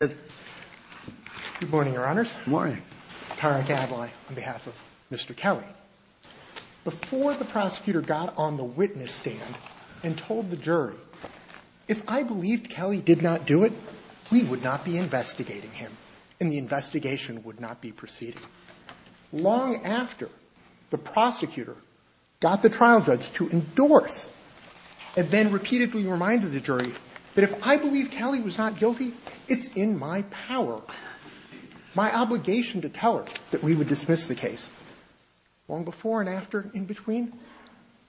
Good morning, Your Honors. Good morning. I'm Tyron Cadly on behalf of Mr. Kelley. Before the prosecutor got on the witness stand and told the jury, if I believed Kelley did not do it, we would not be investigating him, and the investigation would not be proceeding. Long after the prosecutor got the trial judge to endorse and then repeatedly remind the jury that if I believe Kelley was not guilty, it's in my power, my obligation to tell her that we would dismiss the case. Long before and after, in between,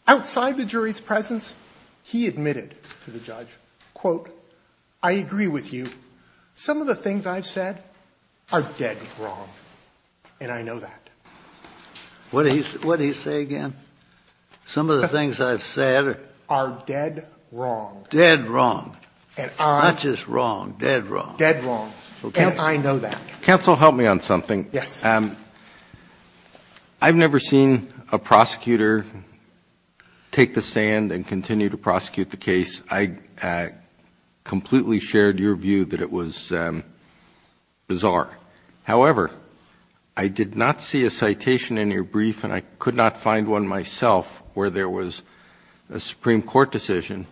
outside the jury's presence, he admitted to the judge, quote, I agree with you. Some of the things I've said are dead wrong, and I know that. What did he say again? Some of the things I've said are dead wrong. Dead wrong. Not just wrong, dead wrong. Dead wrong. And I know that. Counsel, help me on something. Yes. I've never seen a prosecutor take the stand and continue to prosecute the case. I completely shared your view that it was bizarre. However, I did not see a citation in your brief, and I could not find one myself, where there was a Supreme Court decision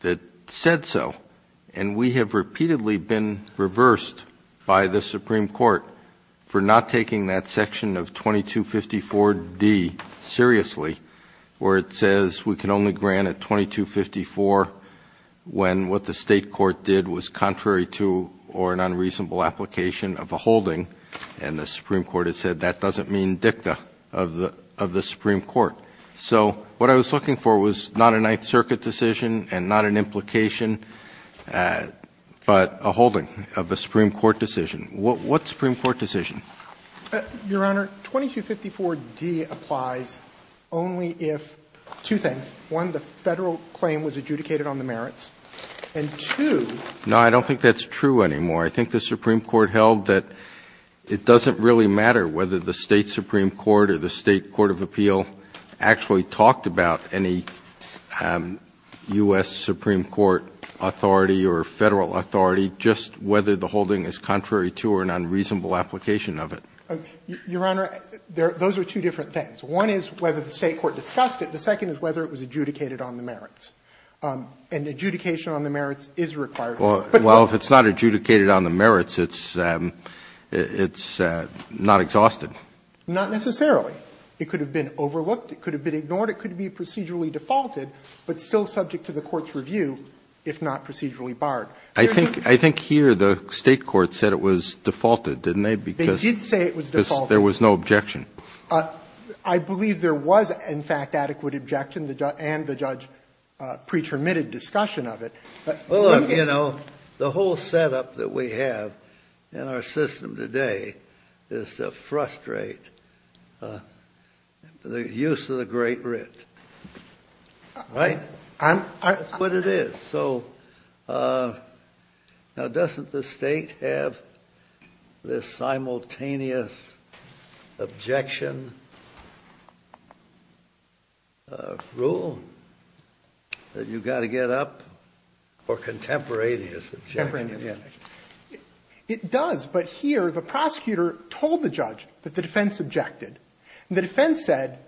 that said so. And we have repeatedly been reversed by the Supreme Court for not taking that section of 2254D seriously, where it says we can only grant it 2254 when what the state court did was contrary to or an unreasonable application of a holding. And the Supreme Court has said that doesn't mean dicta of the Supreme Court. So what I was looking for was not a Ninth Circuit decision and not an implication, but a holding of a Supreme Court decision. What Supreme Court decision? Your Honor, 2254D applies only if two things. One, the Federal claim was adjudicated on the merits. And two. No, I don't think that's true anymore. I think the Supreme Court held that it doesn't really matter whether the State Supreme Court of Appeal actually talked about any U.S. Supreme Court authority or Federal authority, just whether the holding is contrary to or an unreasonable application of it. Your Honor, those are two different things. One is whether the State court discussed it. The second is whether it was adjudicated on the merits. And adjudication on the merits is required. Well, if it's not adjudicated on the merits, it's not exhausted. Not necessarily. It could have been overlooked. It could have been ignored. It could be procedurally defaulted, but still subject to the court's review, if not procedurally barred. I think here the State court said it was defaulted, didn't they? They did say it was defaulted. Because there was no objection. I believe there was, in fact, adequate objection and the judge pre-terminated discussion of it. Well, look, you know, the whole setup that we have in our system today is to frustrate the use of the Great Writ, right? That's what it is. So now doesn't the State have this simultaneous objection rule that you've got to get up or contemporaneous objection? It does, but here the prosecutor told the judge that the defense objected. The defense said,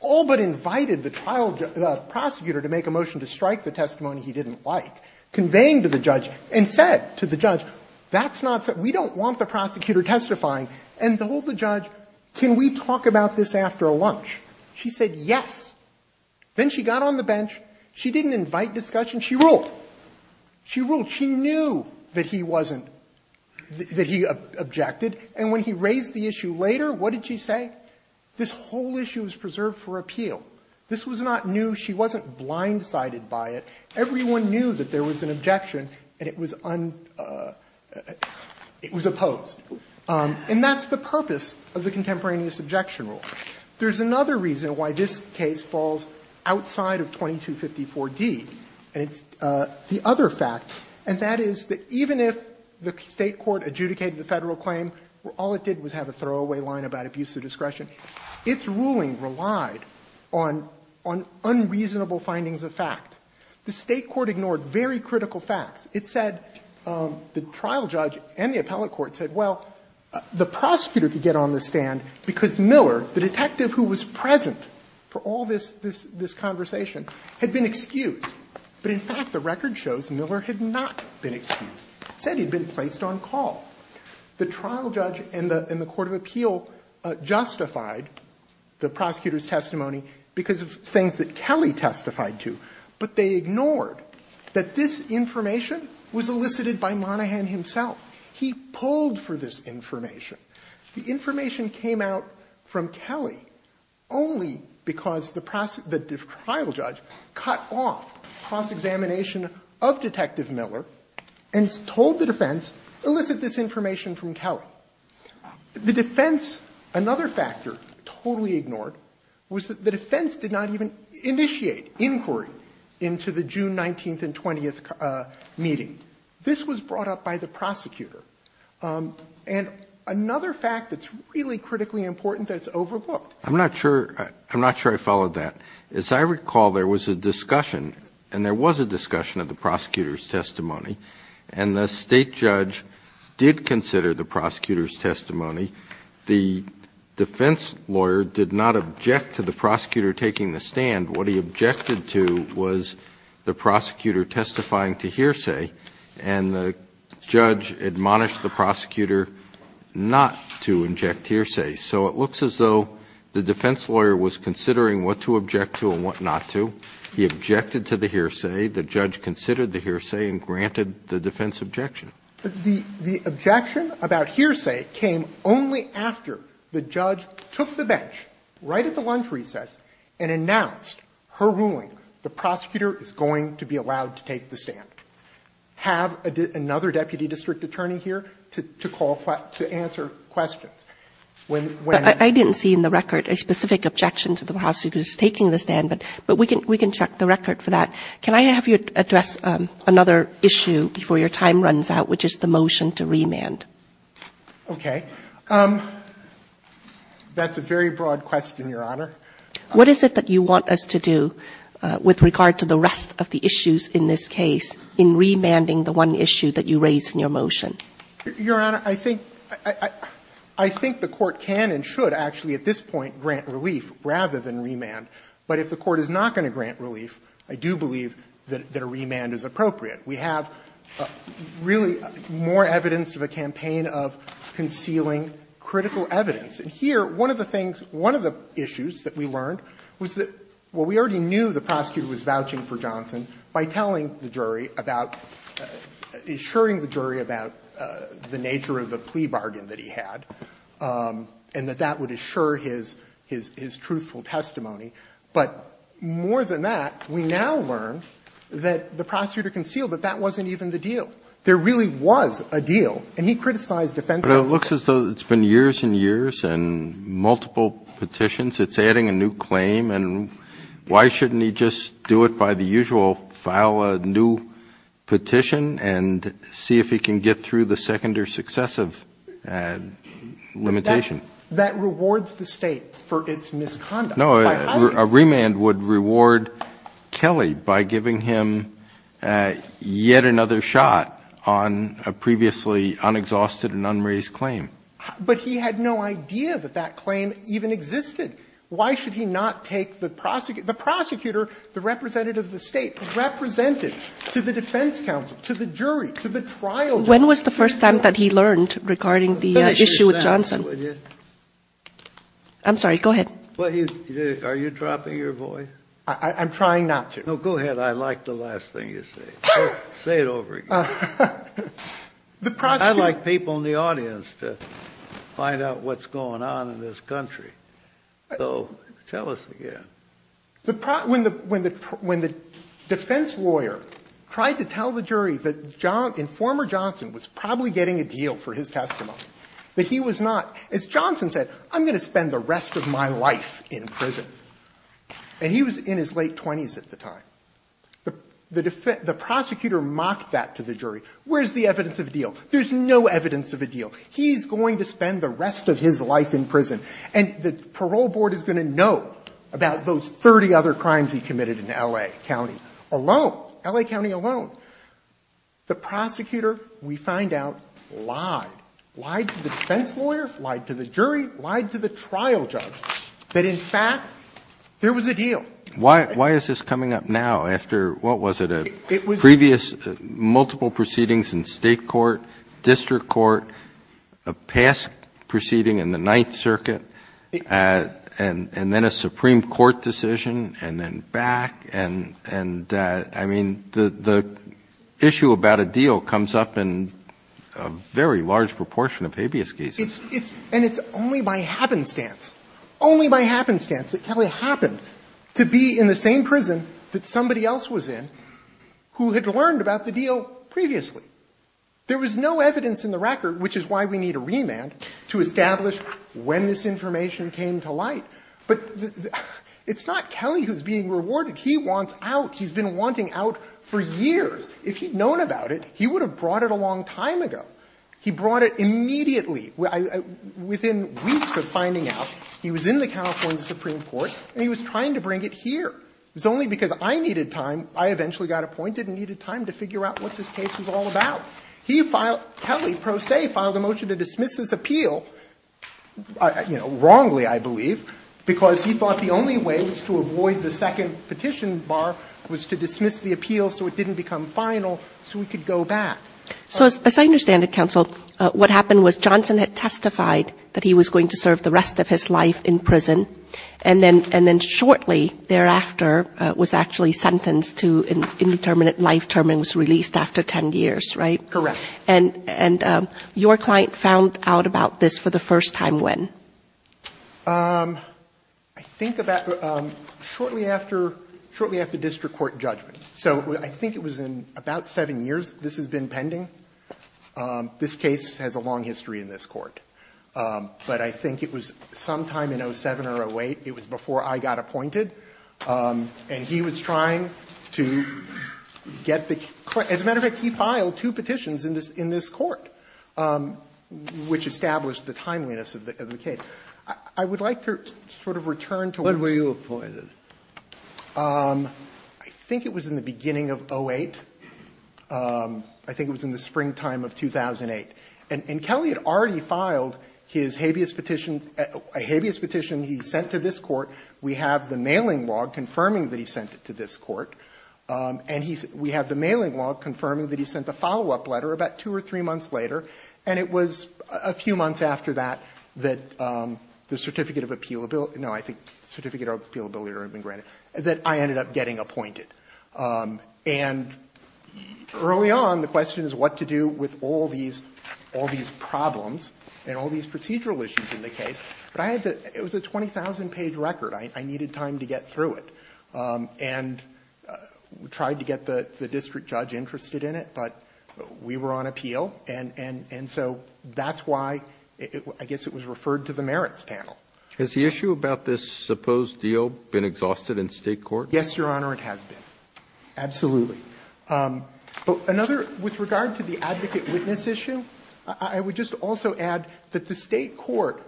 all but invited the prosecutor to make a motion to strike the testimony he didn't like, conveying to the judge, and said to the judge, that's not the case. We don't want the prosecutor testifying. And told the judge, can we talk about this after lunch? She said yes. Then she got on the bench. She didn't invite discussion. She ruled. She ruled. She knew that he wasn't, that he objected. And when he raised the issue later, what did she say? This whole issue is preserved for appeal. This was not new. She wasn't blindsided by it. Everyone knew that there was an objection and it was opposed. And that's the purpose of the contemporaneous objection rule. There's another reason why this case falls outside of 2254d, and it's the other fact, and that is that even if the State court adjudicated the Federal claim, all it did was have a throwaway line about abuse of discretion. Its ruling relied on unreasonable findings of fact. The State court ignored very critical facts. It said, the trial judge and the appellate court said, well, the prosecutor could get on the stand because Miller, the detective who was present for all this conversation, had been excused. But in fact, the record shows Miller had not been excused. It said he had been placed on call. The trial judge and the court of appeal justified the prosecutor's testimony because of things that Kelly testified to, but they ignored that this information was elicited by Monaghan himself. He pulled for this information. The information came out from Kelly only because the trial judge cut off cross-examination of Detective Miller and told the defense, elicit this information from Kelly. The defense, another factor totally ignored, was that the defense did not even initiate inquiry into the June 19th and 20th meeting. This was brought up by the prosecutor. And another fact that's really critically important that's overlooked. I'm not sure I followed that. As I recall, there was a discussion, and there was a discussion of the prosecutor's testimony, and the State judge did consider the prosecutor's testimony. The defense lawyer did not object to the prosecutor taking the stand. What he objected to was the prosecutor testifying to hearsay, and the judge admonished the prosecutor not to inject hearsay. So it looks as though the defense lawyer was considering what to object to and what not to. He objected to the hearsay. The judge considered the hearsay and granted the defense objection. The objection about hearsay came only after the judge took the bench right at the lunch recess and announced her ruling, the prosecutor is going to be allowed to take the stand. We don't have another deputy district attorney here to call to answer questions. Kagan. I didn't see in the record a specific objection to the prosecutor's taking the stand, but we can check the record for that. Can I have you address another issue before your time runs out, which is the motion to remand? Okay. That's a very broad question, Your Honor. What is it that you want us to do with regard to the rest of the issues in this case in remanding the one issue that you raised in your motion? Your Honor, I think the Court can and should actually at this point grant relief rather than remand. But if the Court is not going to grant relief, I do believe that a remand is appropriate. We have really more evidence of a campaign of concealing critical evidence. And here, one of the things, one of the issues that we learned was that, well, we already knew the prosecutor was vouching for Johnson by telling the jury about, assuring the jury about the nature of the plea bargain that he had, and that that would assure his truthful testimony. But more than that, we now learn that the prosecutor concealed that that wasn't even the deal. There really was a deal, and he criticized offensive evidence. But it looks as though it's been years and years and multiple petitions. It's adding a new claim, and why shouldn't he just do it by the usual, file a new petition and see if he can get through the second or successive limitation? That rewards the State for its misconduct. No, a remand would reward Kelly by giving him yet another shot on a previously unexhausted and unraised claim. But he had no idea that that claim even existed. Why should he not take the prosecutor, the representative of the State, represented to the defense counsel, to the jury, to the trial jury? When was the first time that he learned regarding the issue with Johnson? I'm sorry. Go ahead. Are you dropping your voice? I'm trying not to. Go ahead. I like the last thing you say. Say it over. I like people in the audience to find out what's going on in this country. So tell us again. When the defense lawyer tried to tell the jury that former Johnson was probably getting a deal for his testimony, that he was not, as Johnson said, I'm going to spend the rest of my life in prison. And he was in his late 20s at the time. The prosecutor mocked that to the jury. Where's the evidence of a deal? There's no evidence of a deal. He's going to spend the rest of his life in prison. And the parole board is going to know about those 30 other crimes he committed in L.A. County alone, L.A. County alone. The prosecutor, we find out, lied. Lied to the defense lawyer, lied to the jury, lied to the trial judge, that in fact there was a deal. Why is this coming up now after, what was it, a previous multiple proceedings in State court, district court, a past proceeding in the Ninth Circuit, and then a Supreme Court decision, and then back, and I mean, the issue about a deal comes up in a very large proportion of habeas cases. And it's only by happenstance, only by happenstance, that Kelly happened to this to be in the same prison that somebody else was in who had learned about the deal previously. There was no evidence in the record, which is why we need a remand to establish when this information came to light. But it's not Kelly who's being rewarded. He wants out. He's been wanting out for years. If he'd known about it, he would have brought it a long time ago. He brought it immediately, within weeks of finding out. He was in the California Supreme Court, and he was trying to bring it here. It was only because I needed time. I eventually got appointed and needed time to figure out what this case was all about. He filed – Kelly, pro se, filed a motion to dismiss this appeal, you know, wrongly, I believe, because he thought the only way was to avoid the second petition bar, was to dismiss the appeal so it didn't become final, so he could go back. Kagan. Kagan. And so as I understand it, counsel, what happened was Johnson had testified that he was going to serve the rest of his life in prison and then shortly thereafter was actually sentenced to an indeterminate life term and was released after 10 years, right? Correct. And your client found out about this for the first time when? I think about shortly after the district court judgment. So I think it was in about 7 years this has been pending. This case has a long history in this court. But I think it was sometime in 07 or 08, it was before I got appointed, and he was trying to get the as a matter of fact he filed two petitions in this court, which established the timeliness of the case. I would like to sort of return to what was. When were you appointed? I think it was in the beginning of 08. I think it was in the springtime of 2008. And Kelly had already filed his habeas petition, a habeas petition he sent to this court. We have the mailing log confirming that he sent it to this court. And we have the mailing log confirming that he sent a follow-up letter about 2 or 3 months later, and it was a few months after that, that the certificate of appealability no, I think certificate of appealability had been granted, that I ended up getting appointed. And early on, the question is what to do with all these problems and all these procedural issues in the case. But I had to – it was a 20,000-page record. I needed time to get through it. And we tried to get the district judge interested in it, but we were on appeal. And so that's why I guess it was referred to the merits panel. Has the issue about this supposed deal been exhausted in State court? Yes, Your Honor, it has been. Absolutely. Another, with regard to the advocate-witness issue, I would just also add that the State court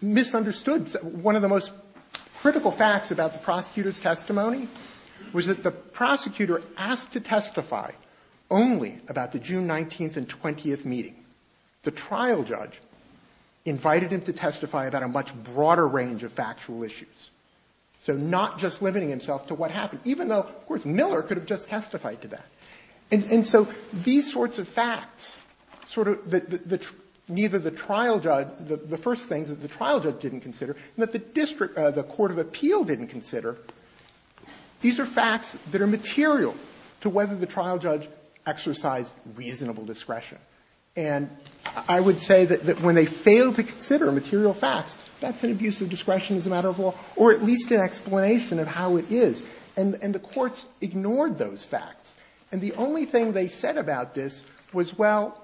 misunderstood one of the most critical facts about the prosecutor's testimony, was that the prosecutor asked to testify only about the June 19th and 20th meeting. The trial judge invited him to testify about a much broader range of factual issues, so not just limiting himself to what happened, even though, of course, Miller could have just testified to that. And so these sorts of facts, sort of the – neither the trial judge – the first things that the trial judge didn't consider and that the district – the court of appeal didn't consider, these are facts that are material to whether the trial judge exercised reasonable discretion. And I would say that when they fail to consider material facts, that's an abuse of discretion as a matter of law, or at least an explanation of how it is, and the courts ignored those facts. And the only thing they said about this was, well,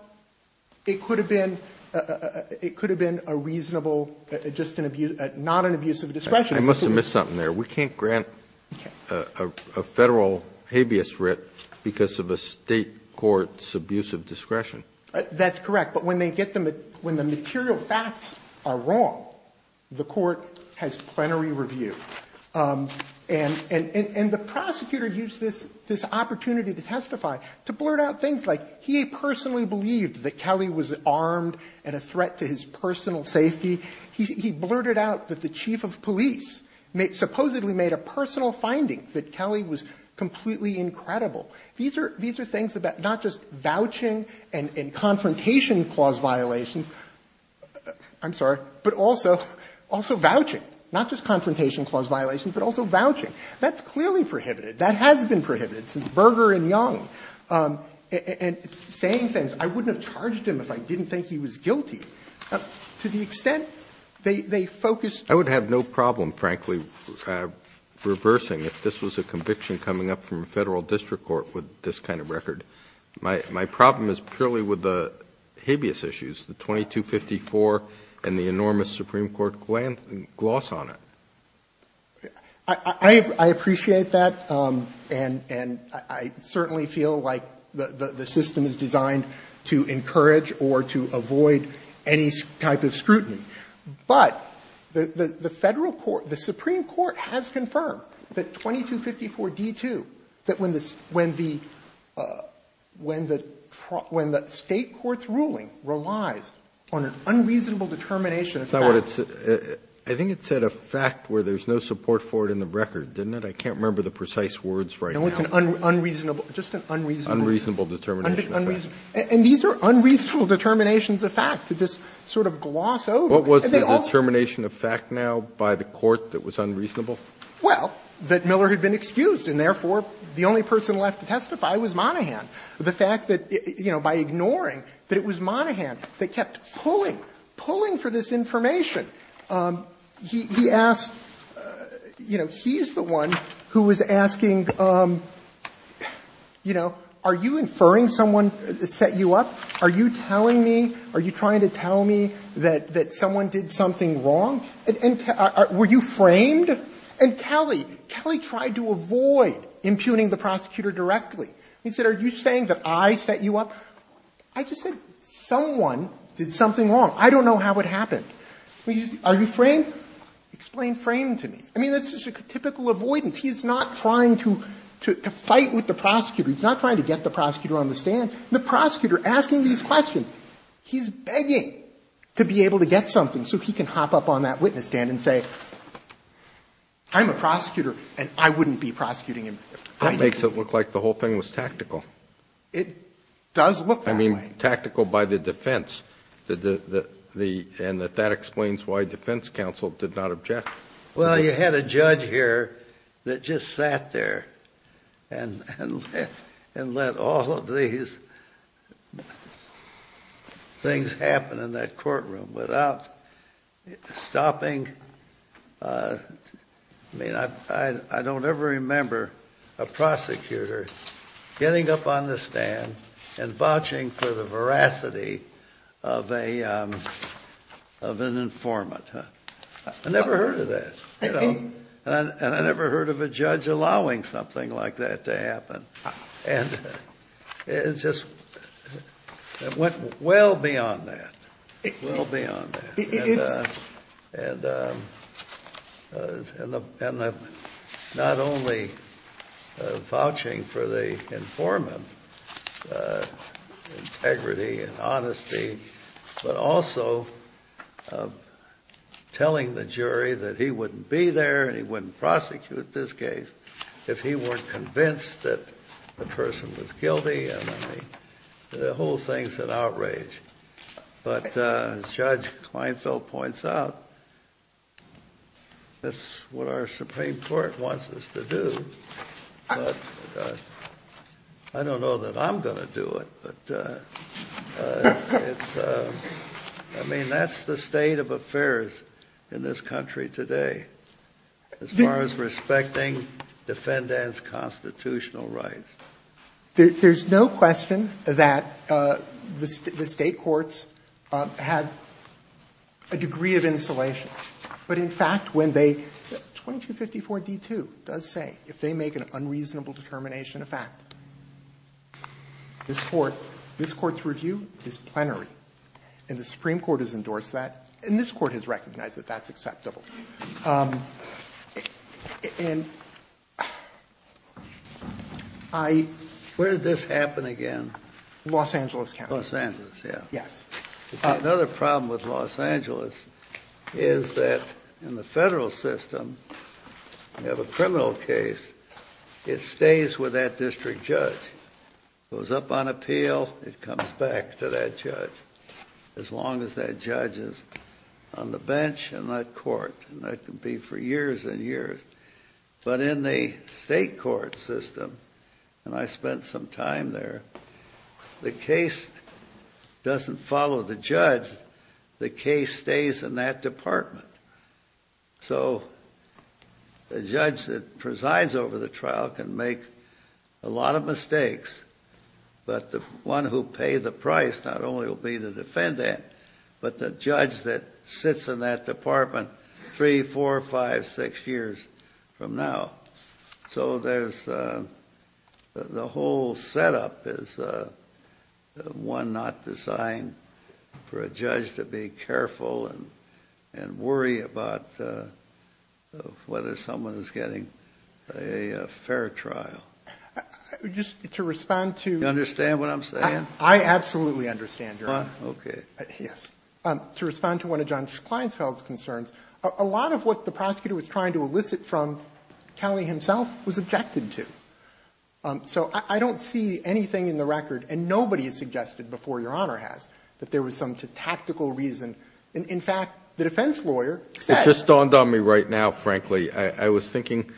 it could have been a reasonable – just an abuse – not an abuse of discretion. I must have missed something there. We can't grant a Federal habeas writ because of a State court's abuse of discretion. That's correct. But when they get the – when the material facts are wrong, the court has plenary review. And the prosecutor used this opportunity to testify to blurt out things like he personally believed that Kelly was armed and a threat to his personal safety. He blurted out that the chief of police supposedly made a personal finding that Kelly was completely incredible. These are things about not just vouching and confrontation clause violations – I'm sorry – but also, also vouching, not just confrontation clause violations, but also vouching. That's clearly prohibited. That has been prohibited since Berger and Young. And saying things, I wouldn't have charged him if I didn't think he was guilty. I appreciate that, and I certainly feel like the system is designed to encourage or to avoid any type of scrutiny, but the Federal court, the Supreme Court has confirmed that 2254d-2, that when the Supreme Court, when the Supreme Court, when the Supreme Court, when the State court's ruling relies on an unreasonable determination of fact. It's not what it's – I think it said a fact where there's no support for it in the record, didn't it? I can't remember the precise words right now. No, it's an unreasonable – just an unreasonable. Unreasonable determination of fact. And these are unreasonable determinations of fact that just sort of gloss over. What was the determination of fact now by the court that was unreasonable? Well, that Miller had been excused and therefore the only person left to testify was Monahan. The fact that, you know, by ignoring, that it was Monahan that kept pulling, pulling for this information. He asked, you know, he's the one who was asking, you know, are you inferring someone set you up? Are you telling me, are you trying to tell me that someone did something wrong? And were you framed? And Kelly, Kelly tried to avoid impugning the prosecutor directly. He said, are you saying that I set you up? I just said someone did something wrong. I don't know how it happened. Are you framed? Explain framed to me. I mean, that's just a typical avoidance. He's not trying to fight with the prosecutor. He's not trying to get the prosecutor on the stand. The prosecutor, asking these questions, he's begging to be able to get something done so he can hop up on that witness stand and say, I'm a prosecutor and I wouldn't be prosecuting him. That makes it look like the whole thing was tactical. It does look that way. I mean, tactical by the defense, the, the, the, and that that explains why defense counsel did not object. Well, you had a judge here that just sat there and, and, and let all of these things happen in that courtroom without stopping. I mean, I, I, I don't ever remember a prosecutor getting up on the stand and vouching for the veracity of a, of an informant. I never heard of that. And I never heard of a judge allowing something like that to happen. And it's just, it went well beyond that, well beyond that, and, and, and not only vouching for the informant's integrity and honesty, but also telling the jury that he wouldn't be there and he wouldn't prosecute this case if he weren't convinced that the person was guilty and the whole thing's an outrage. But as Judge Kleinfeld points out, that's what our Supreme Court wants us to do, but I don't know that I'm going to do it, but it's, I mean, that's the state of affairs in this country today as far as respecting defendants' constitutional rights. There's no question that the State courts have a degree of insulation, but in fact, when they, 2254d2 does say, if they make an unreasonable determination of fact, this Court, this Court's review is plenary, and the Supreme Court has endorsed that, and this Court has recognized that that's acceptable. And I, where did this happen again? Los Angeles County. Los Angeles, yeah. Yes. Another problem with Los Angeles is that in the federal system, you have a criminal case, it stays with that district judge. Goes up on appeal, it comes back to that judge, as long as that judge is on the bench in that court, and that can be for years and years. But in the state court system, and I spent some time there, the case doesn't follow the judge, the case stays in that department. So, the judge that presides over the trial can make a lot of mistakes, but the one who paid the price, not only will be the defendant, but the judge that sits in that department, three, four, five, six years from now. So there's, the whole setup is one not designed for a judge to be careful and worry about whether someone is getting a fair trial. Just to respond to... You understand what I'm saying? I absolutely understand, Your Honor. Okay. Yes. To respond to one of John Kleinsfeld's concerns, a lot of what the prosecutor was trying to elicit from Kelly himself was objected to. So, I don't see anything in the record, and nobody has suggested before Your In fact, the defense lawyer said... It just dawned on me right now, frankly. I was thinking,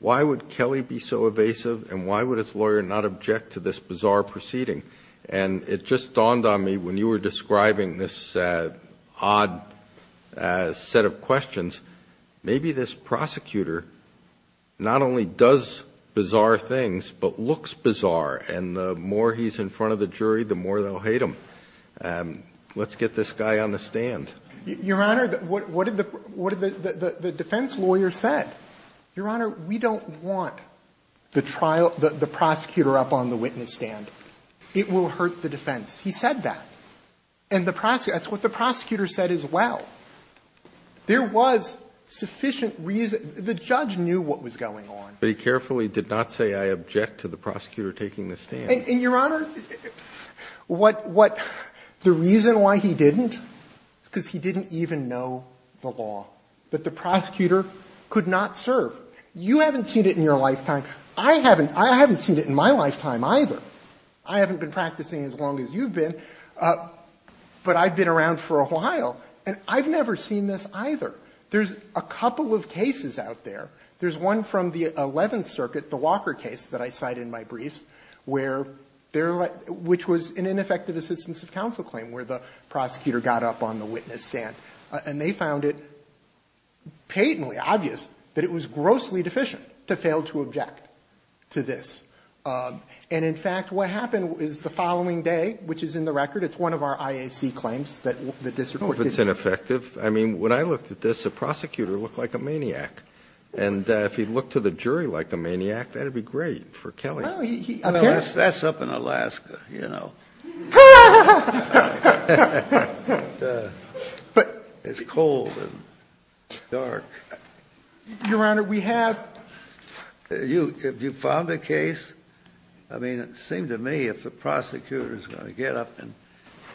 why would Kelly be so evasive, and why would his lawyer not object to this bizarre proceeding? And it just dawned on me when you were describing this odd set of questions, maybe this prosecutor not only does bizarre things, but looks bizarre. And the more he's in front of the jury, the more they'll hate him. Let's get this guy on the stand. Your Honor, what did the defense lawyer said? Your Honor, we don't want the trial, the prosecutor up on the witness stand. It will hurt the defense. He said that. And the prosecutor, that's what the prosecutor said as well. There was sufficient reason, the judge knew what was going on. But he carefully did not say, I object to the prosecutor taking the stand. And Your Honor, the reason why he didn't, is because he didn't even know the law. That the prosecutor could not serve. You haven't seen it in your lifetime. I haven't seen it in my lifetime either. I haven't been practicing as long as you've been, but I've been around for a while. And I've never seen this either. There's a couple of cases out there. There's one from the 11th Circuit, the Walker case that I cite in my briefs, which was an ineffective assistance of counsel claim, where the prosecutor got up on the witness stand. And they found it patently obvious that it was grossly deficient to fail to object to this. And in fact, what happened is the following day, which is in the record, it's one of our IAC claims that the district court- No, it's ineffective. I mean, when I looked at this, the prosecutor looked like a maniac. And if he looked to the jury like a maniac, that'd be great for Kelly. Well, that's up in Alaska, you know. It's cold and dark. Your Honor, we have- If you found a case, I mean, it seemed to me if the prosecutor's going to get up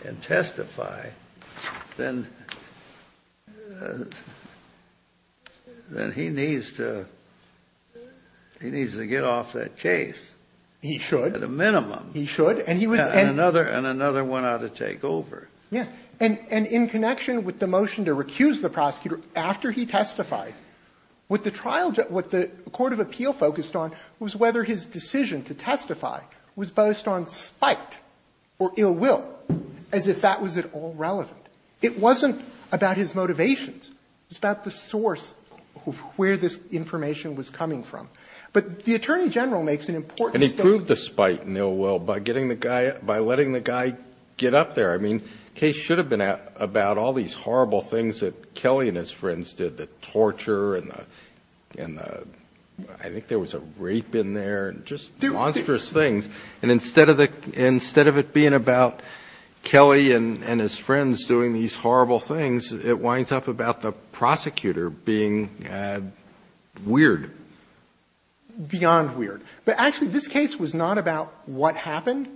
and testify, then he needs to get off that case. He should. At a minimum. He should. And he was- And another one ought to take over. Yeah. And in connection with the motion to recuse the prosecutor, after he testified, was based on spite or ill will, as if that was at all relevant. It wasn't about his motivations. It was about the source of where this information was coming from. But the Attorney General makes an important- And he proved the spite and ill will by getting the guy, by letting the guy get up there. I mean, the case should have been about all these horrible things that Kelly and his friends did. The torture and the, I think there was a rape in there and just monstrous things. And instead of it being about Kelly and his friends doing these horrible things, it winds up about the prosecutor being weird. Beyond weird. But actually, this case was not about what happened.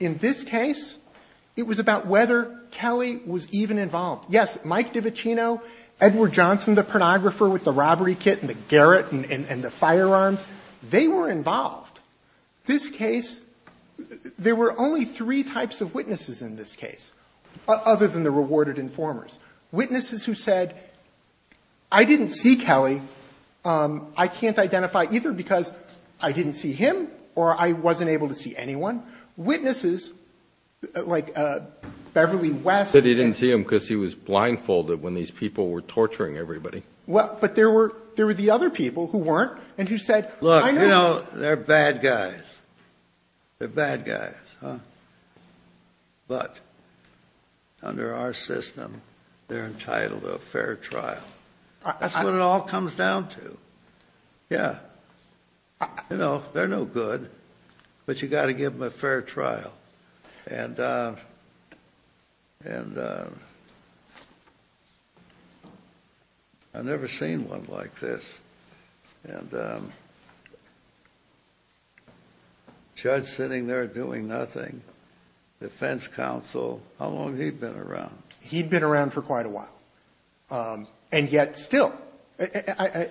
In this case, it was about whether Kelly was even involved. Yes, Mike DiVicino, Edward Johnson, the pornographer with the robbery kit and the Garrett and the firearms, they were involved. This case, there were only three types of witnesses in this case, other than the rewarded informers. Witnesses who said, I didn't see Kelly. I can't identify either because I didn't see him or I wasn't able to see anyone. Witnesses like Beverly West- But he didn't see him because he was blindfolded when these people were torturing everybody. But there were the other people who weren't and who said- Look, you know, they're bad guys. They're bad guys. But under our system, they're entitled to a fair trial. That's what it all comes down to. Yeah. You know, they're no good, but you got to give them a fair trial. And I've never seen one like this. And the judge sitting there doing nothing, defense counsel, how long had he been around? He'd been around for quite a while. And yet still,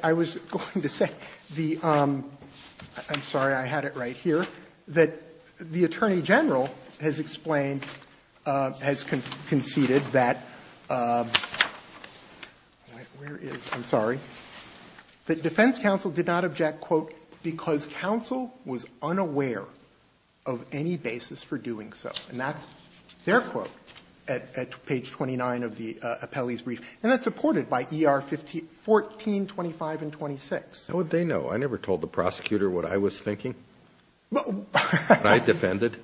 I was going to say the – I'm sorry, I had it right here – that the attorney general has explained, has conceded that – where is it? I'm sorry. That defense counsel did not object, quote, because counsel was unaware of any basis for doing so. And that's their quote at page 29 of the appellee's brief. And that's supported by ER 1425 and 26. How would they know? I never told the prosecutor what I was thinking. But I defended.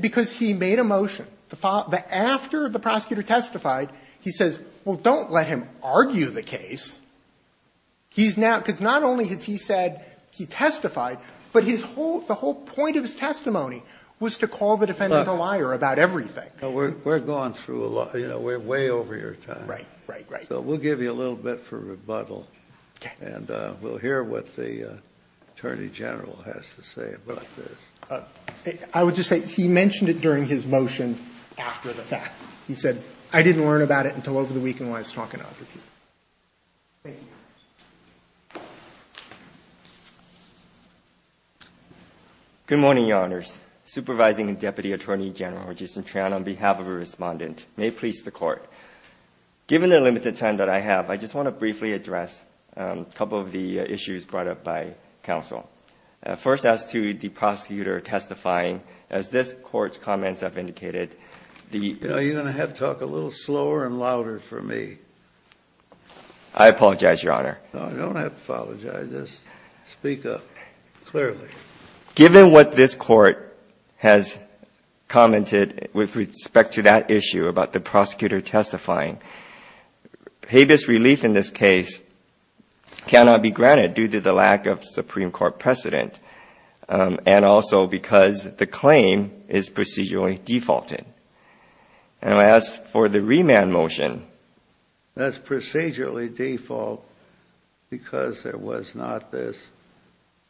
Because he made a motion. After the prosecutor testified, he says, well, don't let him argue the case. He's now – because not only has he said he testified, but the whole point of his testimony was to call the defendant a liar about everything. We're going through a lot. You know, we're way over your time. Right, right, right. So we'll give you a little bit for rebuttal. Okay. And we'll hear what the attorney general has to say about this. I would just say, he mentioned it during his motion after the fact. He said, I didn't learn about it until over the weekend when I was talking to other people. Thank you. Good morning, Your Honors. Supervising Deputy Attorney General Registrant Tran, on behalf of the Respondent. May it please the Court. Given the limited time that I have, I just want to briefly address a couple of the issues brought up by counsel. First, as to the prosecutor testifying, as this Court's comments have indicated, the – You're going to have to talk a little slower and louder for me. I apologize, Your Honor. No, you don't have to apologize. Just speak up clearly. Given what this Court has commented with respect to that issue about the prosecutor testifying, habeas relief in this case cannot be granted due to the lack of Supreme Court precedent and also because the claim is procedurally defaulted. And as for the remand motion, That's procedurally defaulted because there was not this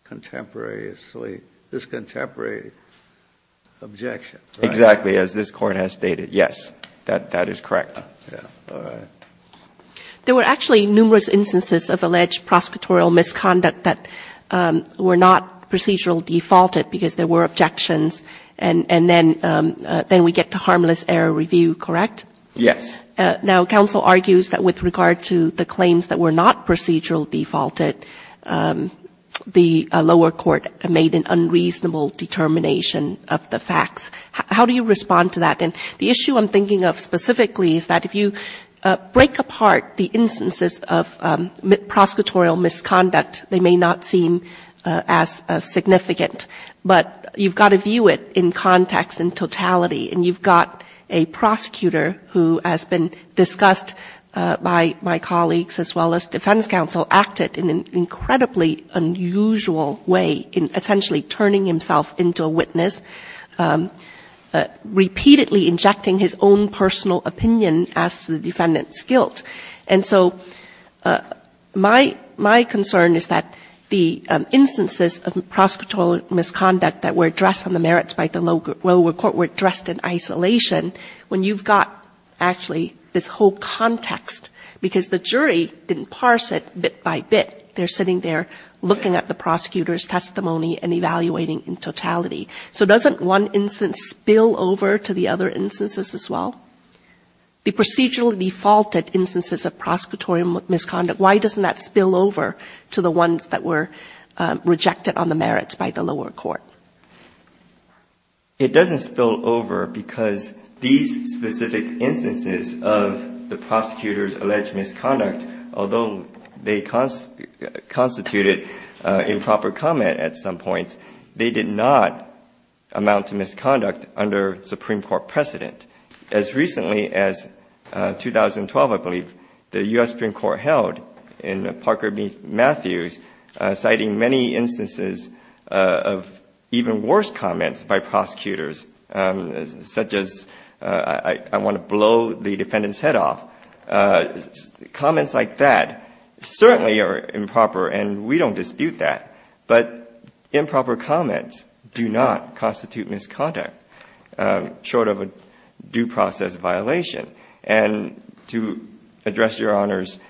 contemporary objection. Exactly, as this Court has stated. Yes, that is correct. There were actually numerous instances of alleged prosecutorial misconduct that were not procedurally defaulted because there were objections, and then we get to harmless error review, correct? Yes. Now, counsel argues that with regard to the claims that were not procedurally defaulted, the lower court made an unreasonable determination of the facts. How do you respond to that? And the issue I'm thinking of specifically is that if you break apart the instances of prosecutorial misconduct, they may not seem as significant, but you've got to view it in context and totality. And you've got a prosecutor who has been discussed by my colleagues as well as defense counsel, acted in an incredibly unusual way in essentially turning himself into a witness, repeatedly injecting his own personal opinion as to the defendant's guilt. And so my concern is that the instances of prosecutorial misconduct that were addressed on the merits by the lower court were addressed in isolation when you've got actually this whole context, because the jury didn't parse it bit by bit. They're sitting there looking at the prosecutor's testimony and evaluating in totality. So doesn't one instance spill over to the other instances as well? The procedurally defaulted instances of prosecutorial misconduct, why doesn't that spill over to the ones that were rejected on the merits by the lower court? It doesn't spill over because these specific instances of the prosecutor's alleged misconduct, although they constituted improper comment at some points, they did not amount to misconduct under Supreme Court precedent. As recently as 2012, I believe, the U.S. Supreme Court held in Parker v. Matthews, citing many instances of even worse comments by prosecutors, such as, I want to blow the defendant's head off. Comments like that certainly are improper, and we don't dispute that. But improper comments do not constitute misconduct, short of a due process violation. And to address Your Honor's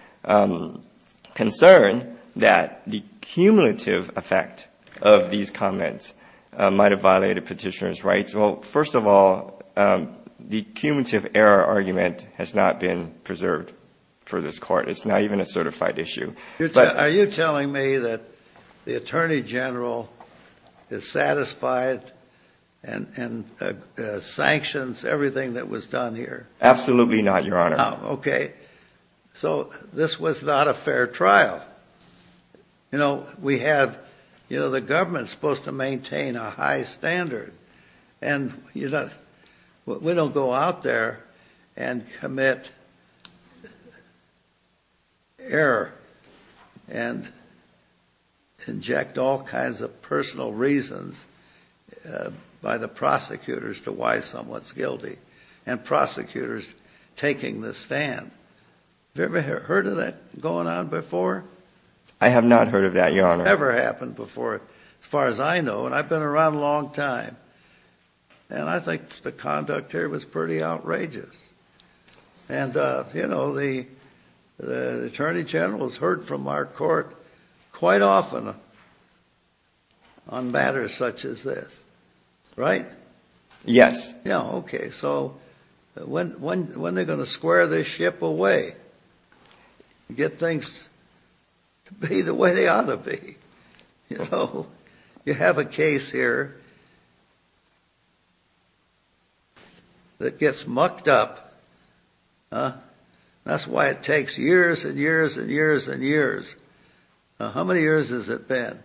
concern that the cumulative effect of these comments might have violated petitioner's rights, well, first of all, the cumulative error argument has not been preserved for this Court. It's not even a certified issue. Are you telling me that the Attorney General is satisfied and sanctions everything that was done here? Absolutely not, Your Honor. Okay. So this was not a fair trial. You know, we have, you know, the government's supposed to maintain a high standard, and we don't go out there and commit error and inject all kinds of personal reasons by the prosecutors to why someone's guilty. And prosecutors taking the stand. Have you ever heard of that going on before? I have not heard of that, Your Honor. It's never happened before as far as I know, and I've been around a long time. And I think the conduct here was pretty outrageous. And, you know, the Attorney General has heard from our Court quite often on matters such as this. Right? Yes. Yeah, okay. So when are they going to square this ship away and get things to be the way they ought to be? You know, you have a case here that gets mucked up. That's why it takes years and years and years and years. Now, how many years has it been?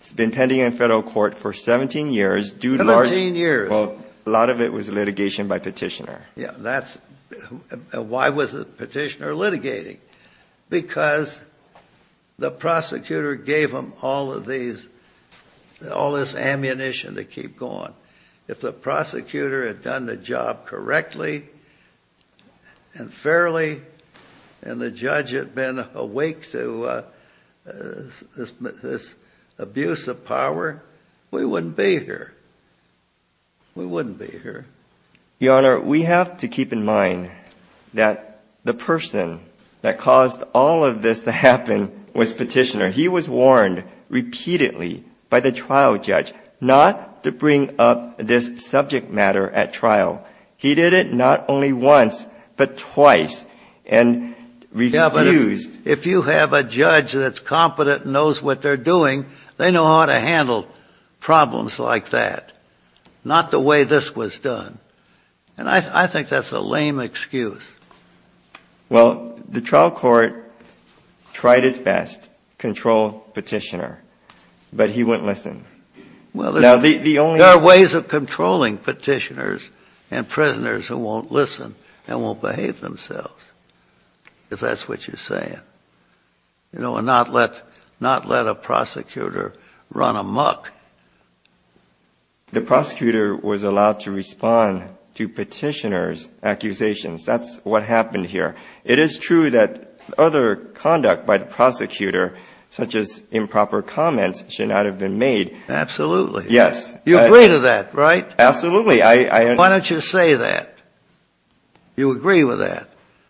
It's been pending in federal court for 17 years, due to large – Well, a lot of it was litigation by petitioner. Yeah, that's – why was the petitioner litigating? Because the prosecutor gave them all of these – all this ammunition to keep going. If the prosecutor had done the job correctly and fairly and the judge had been awake to this abuse of power, we wouldn't be here. We wouldn't be here. Your Honor, we have to keep in mind that the person that caused all of this to happen was petitioner. He was warned repeatedly by the trial judge not to bring up this subject matter at trial. He did it not only once but twice and refused. Yeah, but if you have a judge that's competent and knows what they're doing, they know how to handle problems like that, not the way this was done. And I think that's a lame excuse. Well, the trial court tried its best to control petitioner, but he wouldn't listen. Well, there are ways of controlling petitioners and prisoners who won't listen and won't behave themselves, if that's what you're saying. You know, and not let a prosecutor run amok. The prosecutor was allowed to respond to petitioner's accusations. That's what happened here. It is true that other conduct by the prosecutor, such as improper comments, should not have been made. Absolutely. Yes. You agree to that, right? Absolutely. Why don't you say that? You agree with that.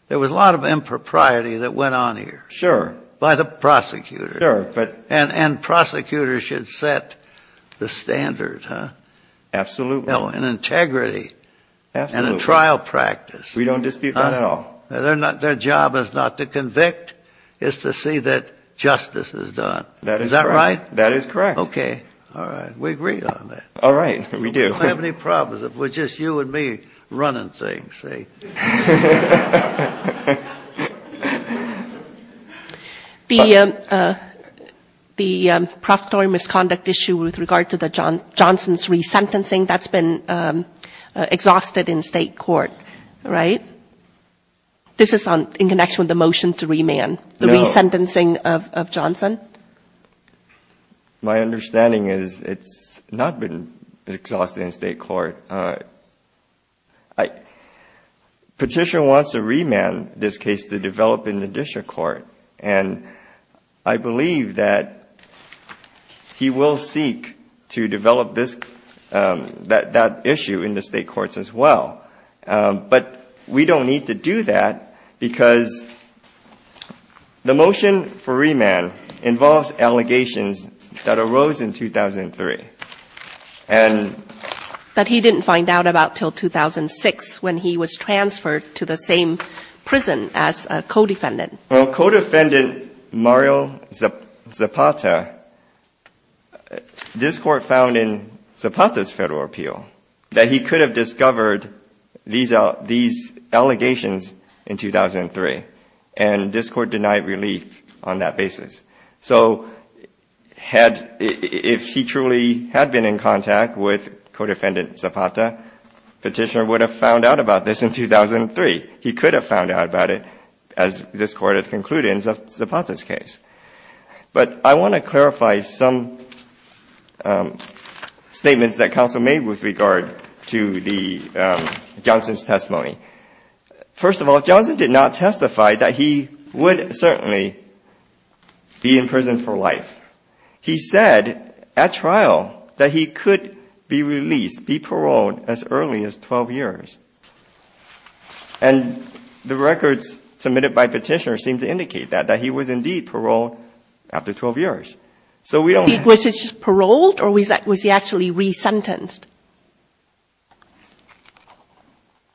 There was a lot of impropriety that went on here. Sure. By the prosecutor. Sure. And prosecutors should set the standard, huh? Absolutely. In integrity. Absolutely. And in trial practice. We don't dispute that at all. Their job is not to convict, it's to see that justice is done. That is correct. Is that right? That is correct. Okay. All right. We agree on that. All right. We do. We don't have any problems. It was just you and me running things, see? The prosecutorial misconduct issue with regard to Johnson's resentencing, that's been exhausted in state court, right? This is in connection with the motion to remand, the resentencing of Johnson. My understanding is it's not been exhausted in state court. Petitioner wants to remand this case to develop in the district court. And I believe that he will seek to develop this, that issue in the state courts as well. But we don't need to do that because the motion for remand involves allegations that arose in 2003. But he didn't find out about until 2006 when he was transferred to the same prison as a co-defendant. Well, co-defendant Mario Zapata, this court found in Zapata's federal appeal that he could have discovered these allegations in 2003. And this court denied relief on that basis. So if he truly had been in contact with co-defendant Zapata, petitioner would have found out about this in 2003. He could have found out about it as this court had concluded in Zapata's case. But I want to clarify some statements that counsel made with regard to Johnson's testimony. First of all, Johnson did not testify that he would certainly be in prison for life. He said at trial that he could be released, be paroled as early as 12 years. And the records submitted by petitioner seem to indicate that, that he was indeed paroled after 12 years. Was he paroled or was he actually resentenced?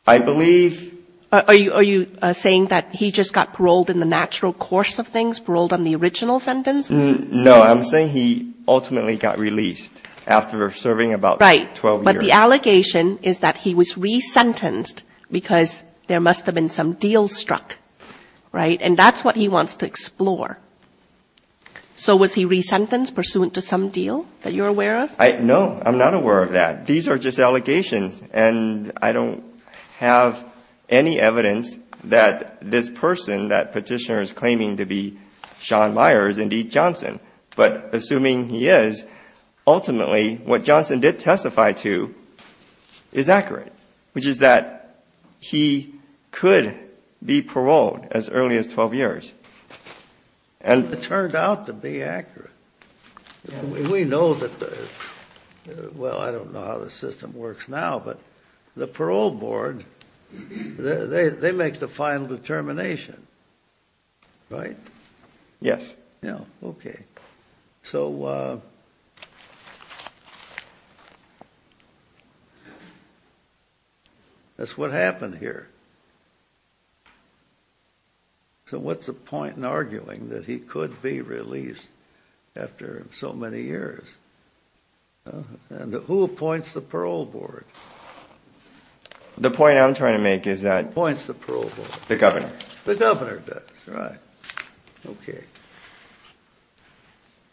I believe... Are you saying that he just got paroled in the natural course of things, paroled on the original sentence? No. I'm saying he ultimately got released after serving about 12 years. Right. But the allegation is that he was resentenced because there must have been some deal struck. Right? And that's what he wants to explore. So was he resentenced pursuant to some deal that you're aware of? No. I'm not aware of that. These are just allegations. And I don't have any evidence that this person, that petitioner is claiming to be Sean Meyer, is indeed Johnson. But assuming he is, ultimately what Johnson did testify to is accurate, which is that he could be paroled as early as 12 years. It turned out to be accurate. We know that the... Well, I don't know how the system works now, but the parole board, they make the final determination. Right? Yes. Okay. So... That's what happened here. So what's the point in arguing that he could be released after so many years? And who appoints the parole board? The point I'm trying to make is that... Who appoints the parole board? The governor. The governor does. Right. Okay.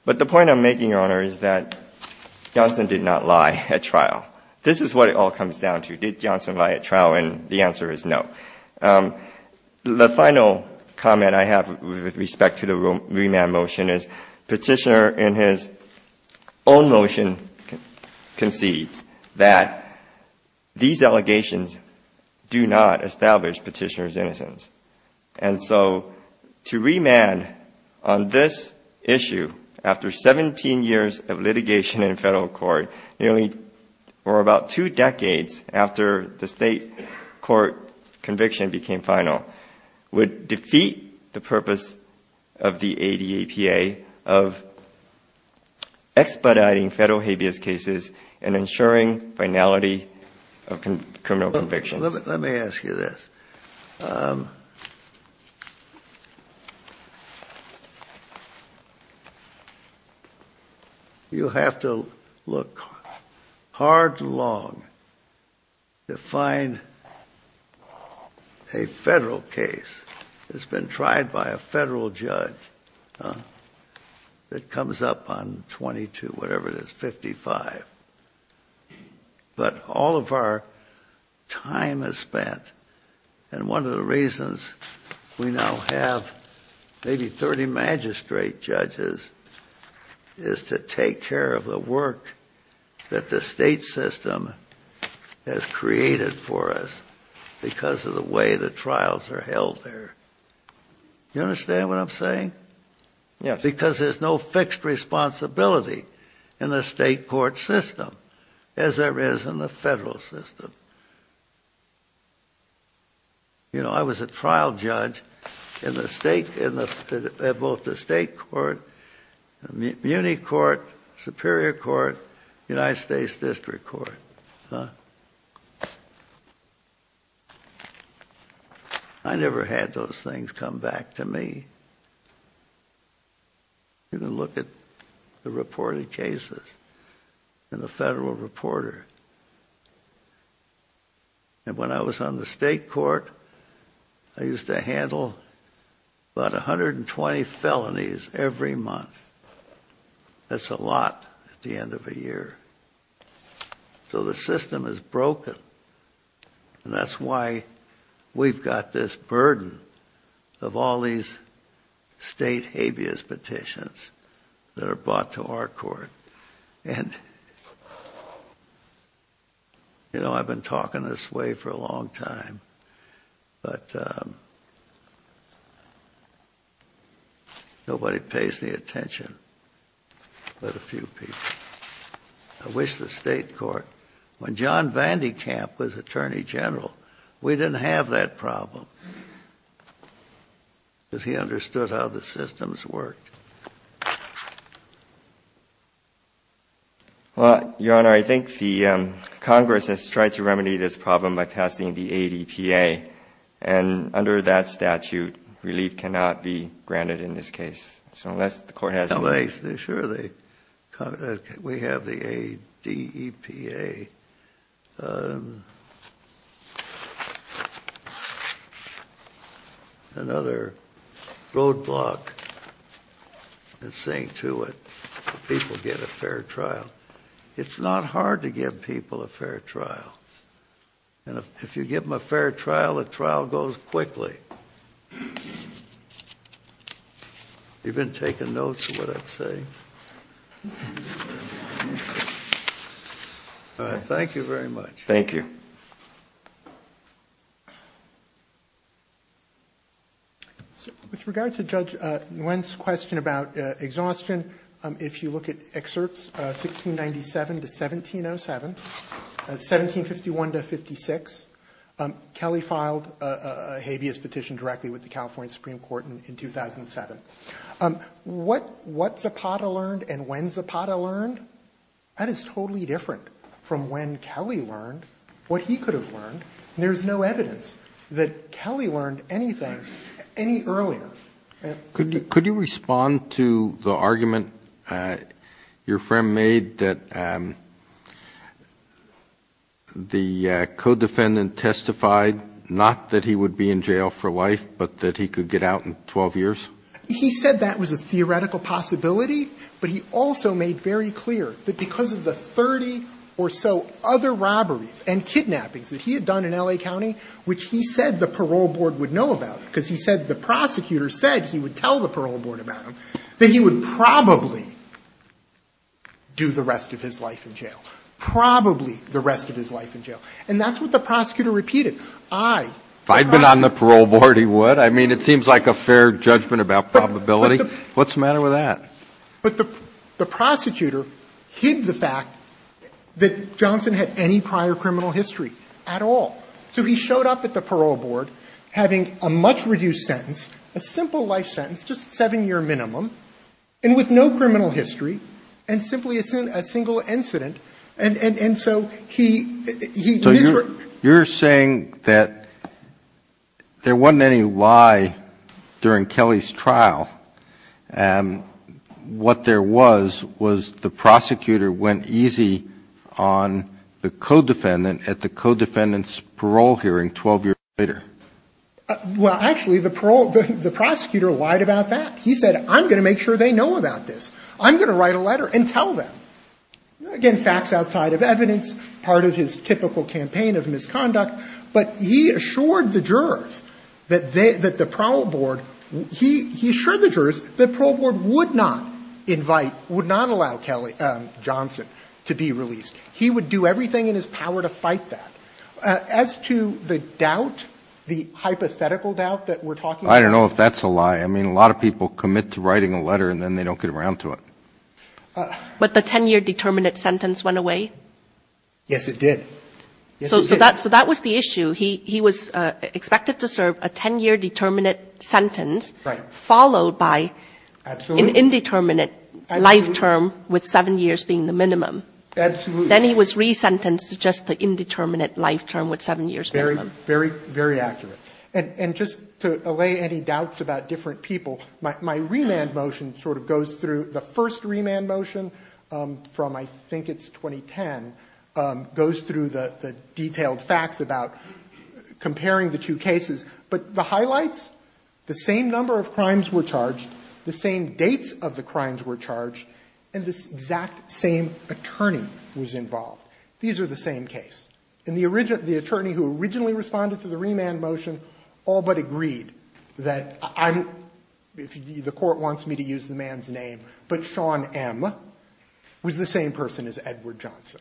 But the point I'm making, Your Honor, is that Johnson did not lie at trial. This is what it all comes down to. Did Johnson lie at trial? And the answer is no. The final comment I have with respect to the remand motion is petitioner in his own motion concedes that these allegations do not establish petitioner's innocence. And so to remand on this issue after 17 years of litigation in federal court, nearly for about two decades after the state court conviction became final, would defeat the purpose of the ADAPA of expediting federal habeas cases and ensuring finality of criminal convictions. Let me ask you this. You have to look hard and long to find a federal case that's been tried by a federal judge that comes up on 22, whatever it is, 55. But all of our time is spent, and one of the reasons we now have maybe 30 magistrate judges is to take care of the work that the state system has created for us because of the way the trials are held there. You understand what I'm saying? Yes. Because there's no fixed responsibility in the state court system as there is in the federal system. You know, I was a trial judge in both the state court, muni court, superior court, United States district court. I never had those things come back to me. You can look at the reported cases in the federal reporter. And when I was on the state court, I used to handle about 120 felonies every month. That's a lot at the end of a year. So the system is broken. And that's why we've got this burden of all these state habeas petitions that are brought to our court. And, you know, I've been talking this way for a long time, but nobody pays any attention but a few people. I wish the state court, when John Van de Kamp was attorney general, we didn't have that problem because he understood how the systems worked. Well, Your Honor, I think the Congress has tried to remedy this problem by passing the ADPA. And under that statute, relief cannot be granted in this case. Sure, we have the ADEPA. Another roadblock is saying to it, people get a fair trial. It's not hard to give people a fair trial. And if you give them a fair trial, the trial goes quickly. Okay. You've been taking notes of what I'm saying. Thank you very much. Thank you. With regard to Judge Nguyen's question about exhaustion, if you look at excerpts 1697 to 1707, 1751 to 56, Kelly filed a habeas petition directly with the California Supreme Court in 2007. What Zapata learned and when Zapata learned, that is totally different from when Kelly learned what he could have learned. There's no evidence that Kelly learned anything any earlier. Could you respond to the argument your friend made that the co-defendant testified not that he would be in jail for life, but that he could get out in 12 years? He said that was a theoretical possibility, but he also made very clear that because of the 30 or so other robberies and kidnappings that he had done in L.A. County, which he said the parole board would know about because he said the prosecutor said he would tell the parole board about them, that he would probably do the rest of his life in jail, probably the rest of his life in jail. And that's what the prosecutor repeated. If I'd been on the parole board, he would. I mean, it seems like a fair judgment about probability. What's the matter with that? But the prosecutor hid the fact that Johnson had any prior criminal history at all. So he showed up at the parole board having a much-reduced sentence, a simple life sentence, just a 7-year minimum, and with no criminal history, and simply a single incident. And so he misreported. So you're saying that there wasn't any lie during Kelly's trial. What there was was the prosecutor went easy on the co-defendant at the co-defendant's parole hearing 12 years later. Well, actually, the prosecutor lied about that. He said, I'm going to make sure they know about this. I'm going to write a letter and tell them. Again, facts outside of evidence, part of his typical campaign of misconduct. But he assured the jurors that the parole board would not invite, would not allow Johnson to be released. He would do everything in his power to fight that. As to the doubt, the hypothetical doubt that we're talking about. I don't know if that's a lie. I mean, a lot of people commit to writing a letter, and then they don't get around to it. But the 10-year determinate sentence went away? Yes, it did. Yes, it did. So that was the issue. He was expected to serve a 10-year determinate sentence. Right. Followed by an indeterminate life term with 7 years being the minimum. Absolutely. Then he was resentenced to just the indeterminate life term with 7 years minimum. Very, very accurate. And just to allay any doubts about different people, my remand motion sort of goes through the first remand motion from I think it's 2010, goes through the detailed facts about comparing the two cases. But the highlights, the same number of crimes were charged, the same dates of the involved. These are the same case. And the attorney who originally responded to the remand motion all but agreed that I'm, if the court wants me to use the man's name, but Sean M. was the same person as Edward Johnson.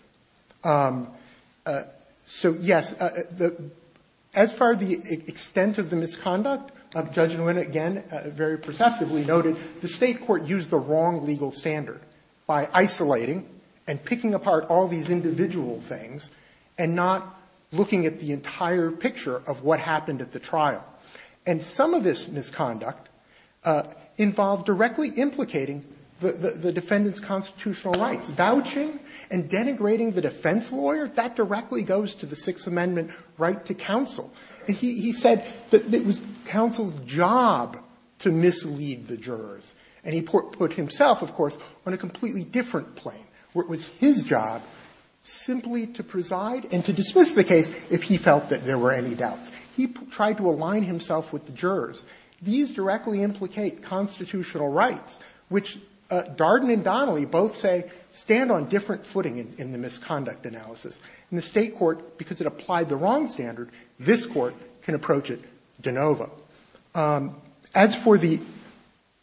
So, yes, as far as the extent of the misconduct, Judge Nguyen, again, very perceptively noted the State court used the wrong legal standard by isolating and picking apart all these individual things and not looking at the entire picture of what happened at the trial. And some of this misconduct involved directly implicating the defendant's constitutional rights. Vouching and denigrating the defense lawyer, that directly goes to the Sixth Amendment right to counsel. And he said that it was counsel's job to mislead the jurors. And he put himself, of course, on a completely different plane, where it was his job simply to preside and to dismiss the case if he felt that there were any doubts. He tried to align himself with the jurors. These directly implicate constitutional rights, which Darden and Donnelly both say stand on different footing in the misconduct analysis. And the State court, because it applied the wrong standard, this Court can approach it de novo. As for the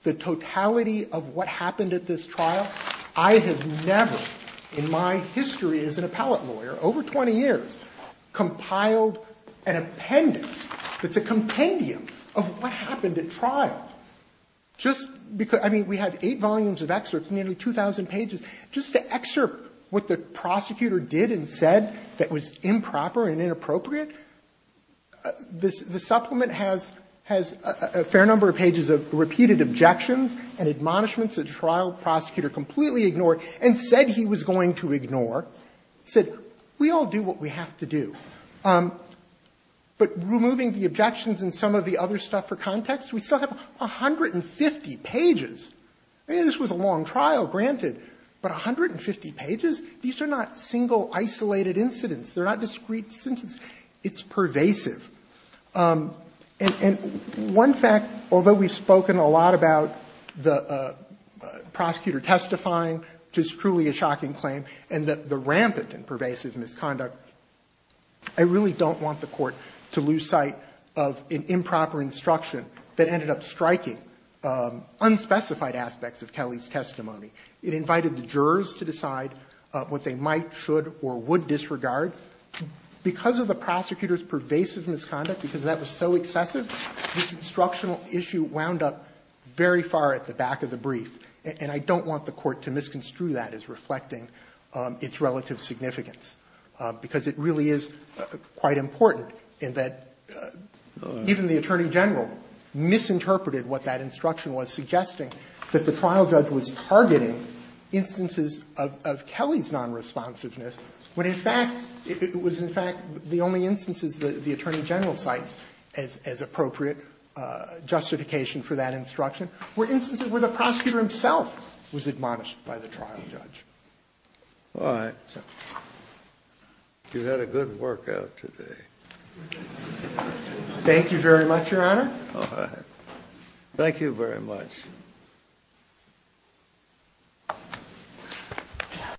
totality of what happened at this trial, I have never in my history as an appellate lawyer, over 20 years, compiled an appendix that's a compendium of what happened at trial. Just because we had eight volumes of excerpts, nearly 2,000 pages. Just to excerpt what the prosecutor did and said that was improper and inappropriate, the supplement has a fair number of pages of repeated objections and admonishments a trial prosecutor completely ignored and said he was going to ignore. It said, we all do what we have to do. But removing the objections and some of the other stuff for context, we still have 150 pages. This was a long trial. Granted, but 150 pages, these are not single isolated incidents. They are not discrete incidents. It's pervasive. And one fact, although we have spoken a lot about the prosecutor testifying, which is truly a shocking claim, and the rampant and pervasive misconduct, I really don't want the Court to lose sight of an improper instruction that ended up striking unspecified aspects of Kelly's testimony. It invited the jurors to decide what they might, should or would disregard. Because of the prosecutor's pervasive misconduct, because that was so excessive, this instructional issue wound up very far at the back of the brief. And I don't want the Court to misconstrue that as reflecting its relative significance, because it really is quite important in that even the Attorney General misinterpreted what that instruction was, suggesting that the trial judge was targeting instances of Kelly's nonresponsiveness, when in fact it was in fact the only instances that the Attorney General cites as appropriate justification for that instruction were instances where the prosecutor himself was admonished by the trial judge. All right. You had a good workout today. Thank you very much, Your Honor. All right. Thank you very much.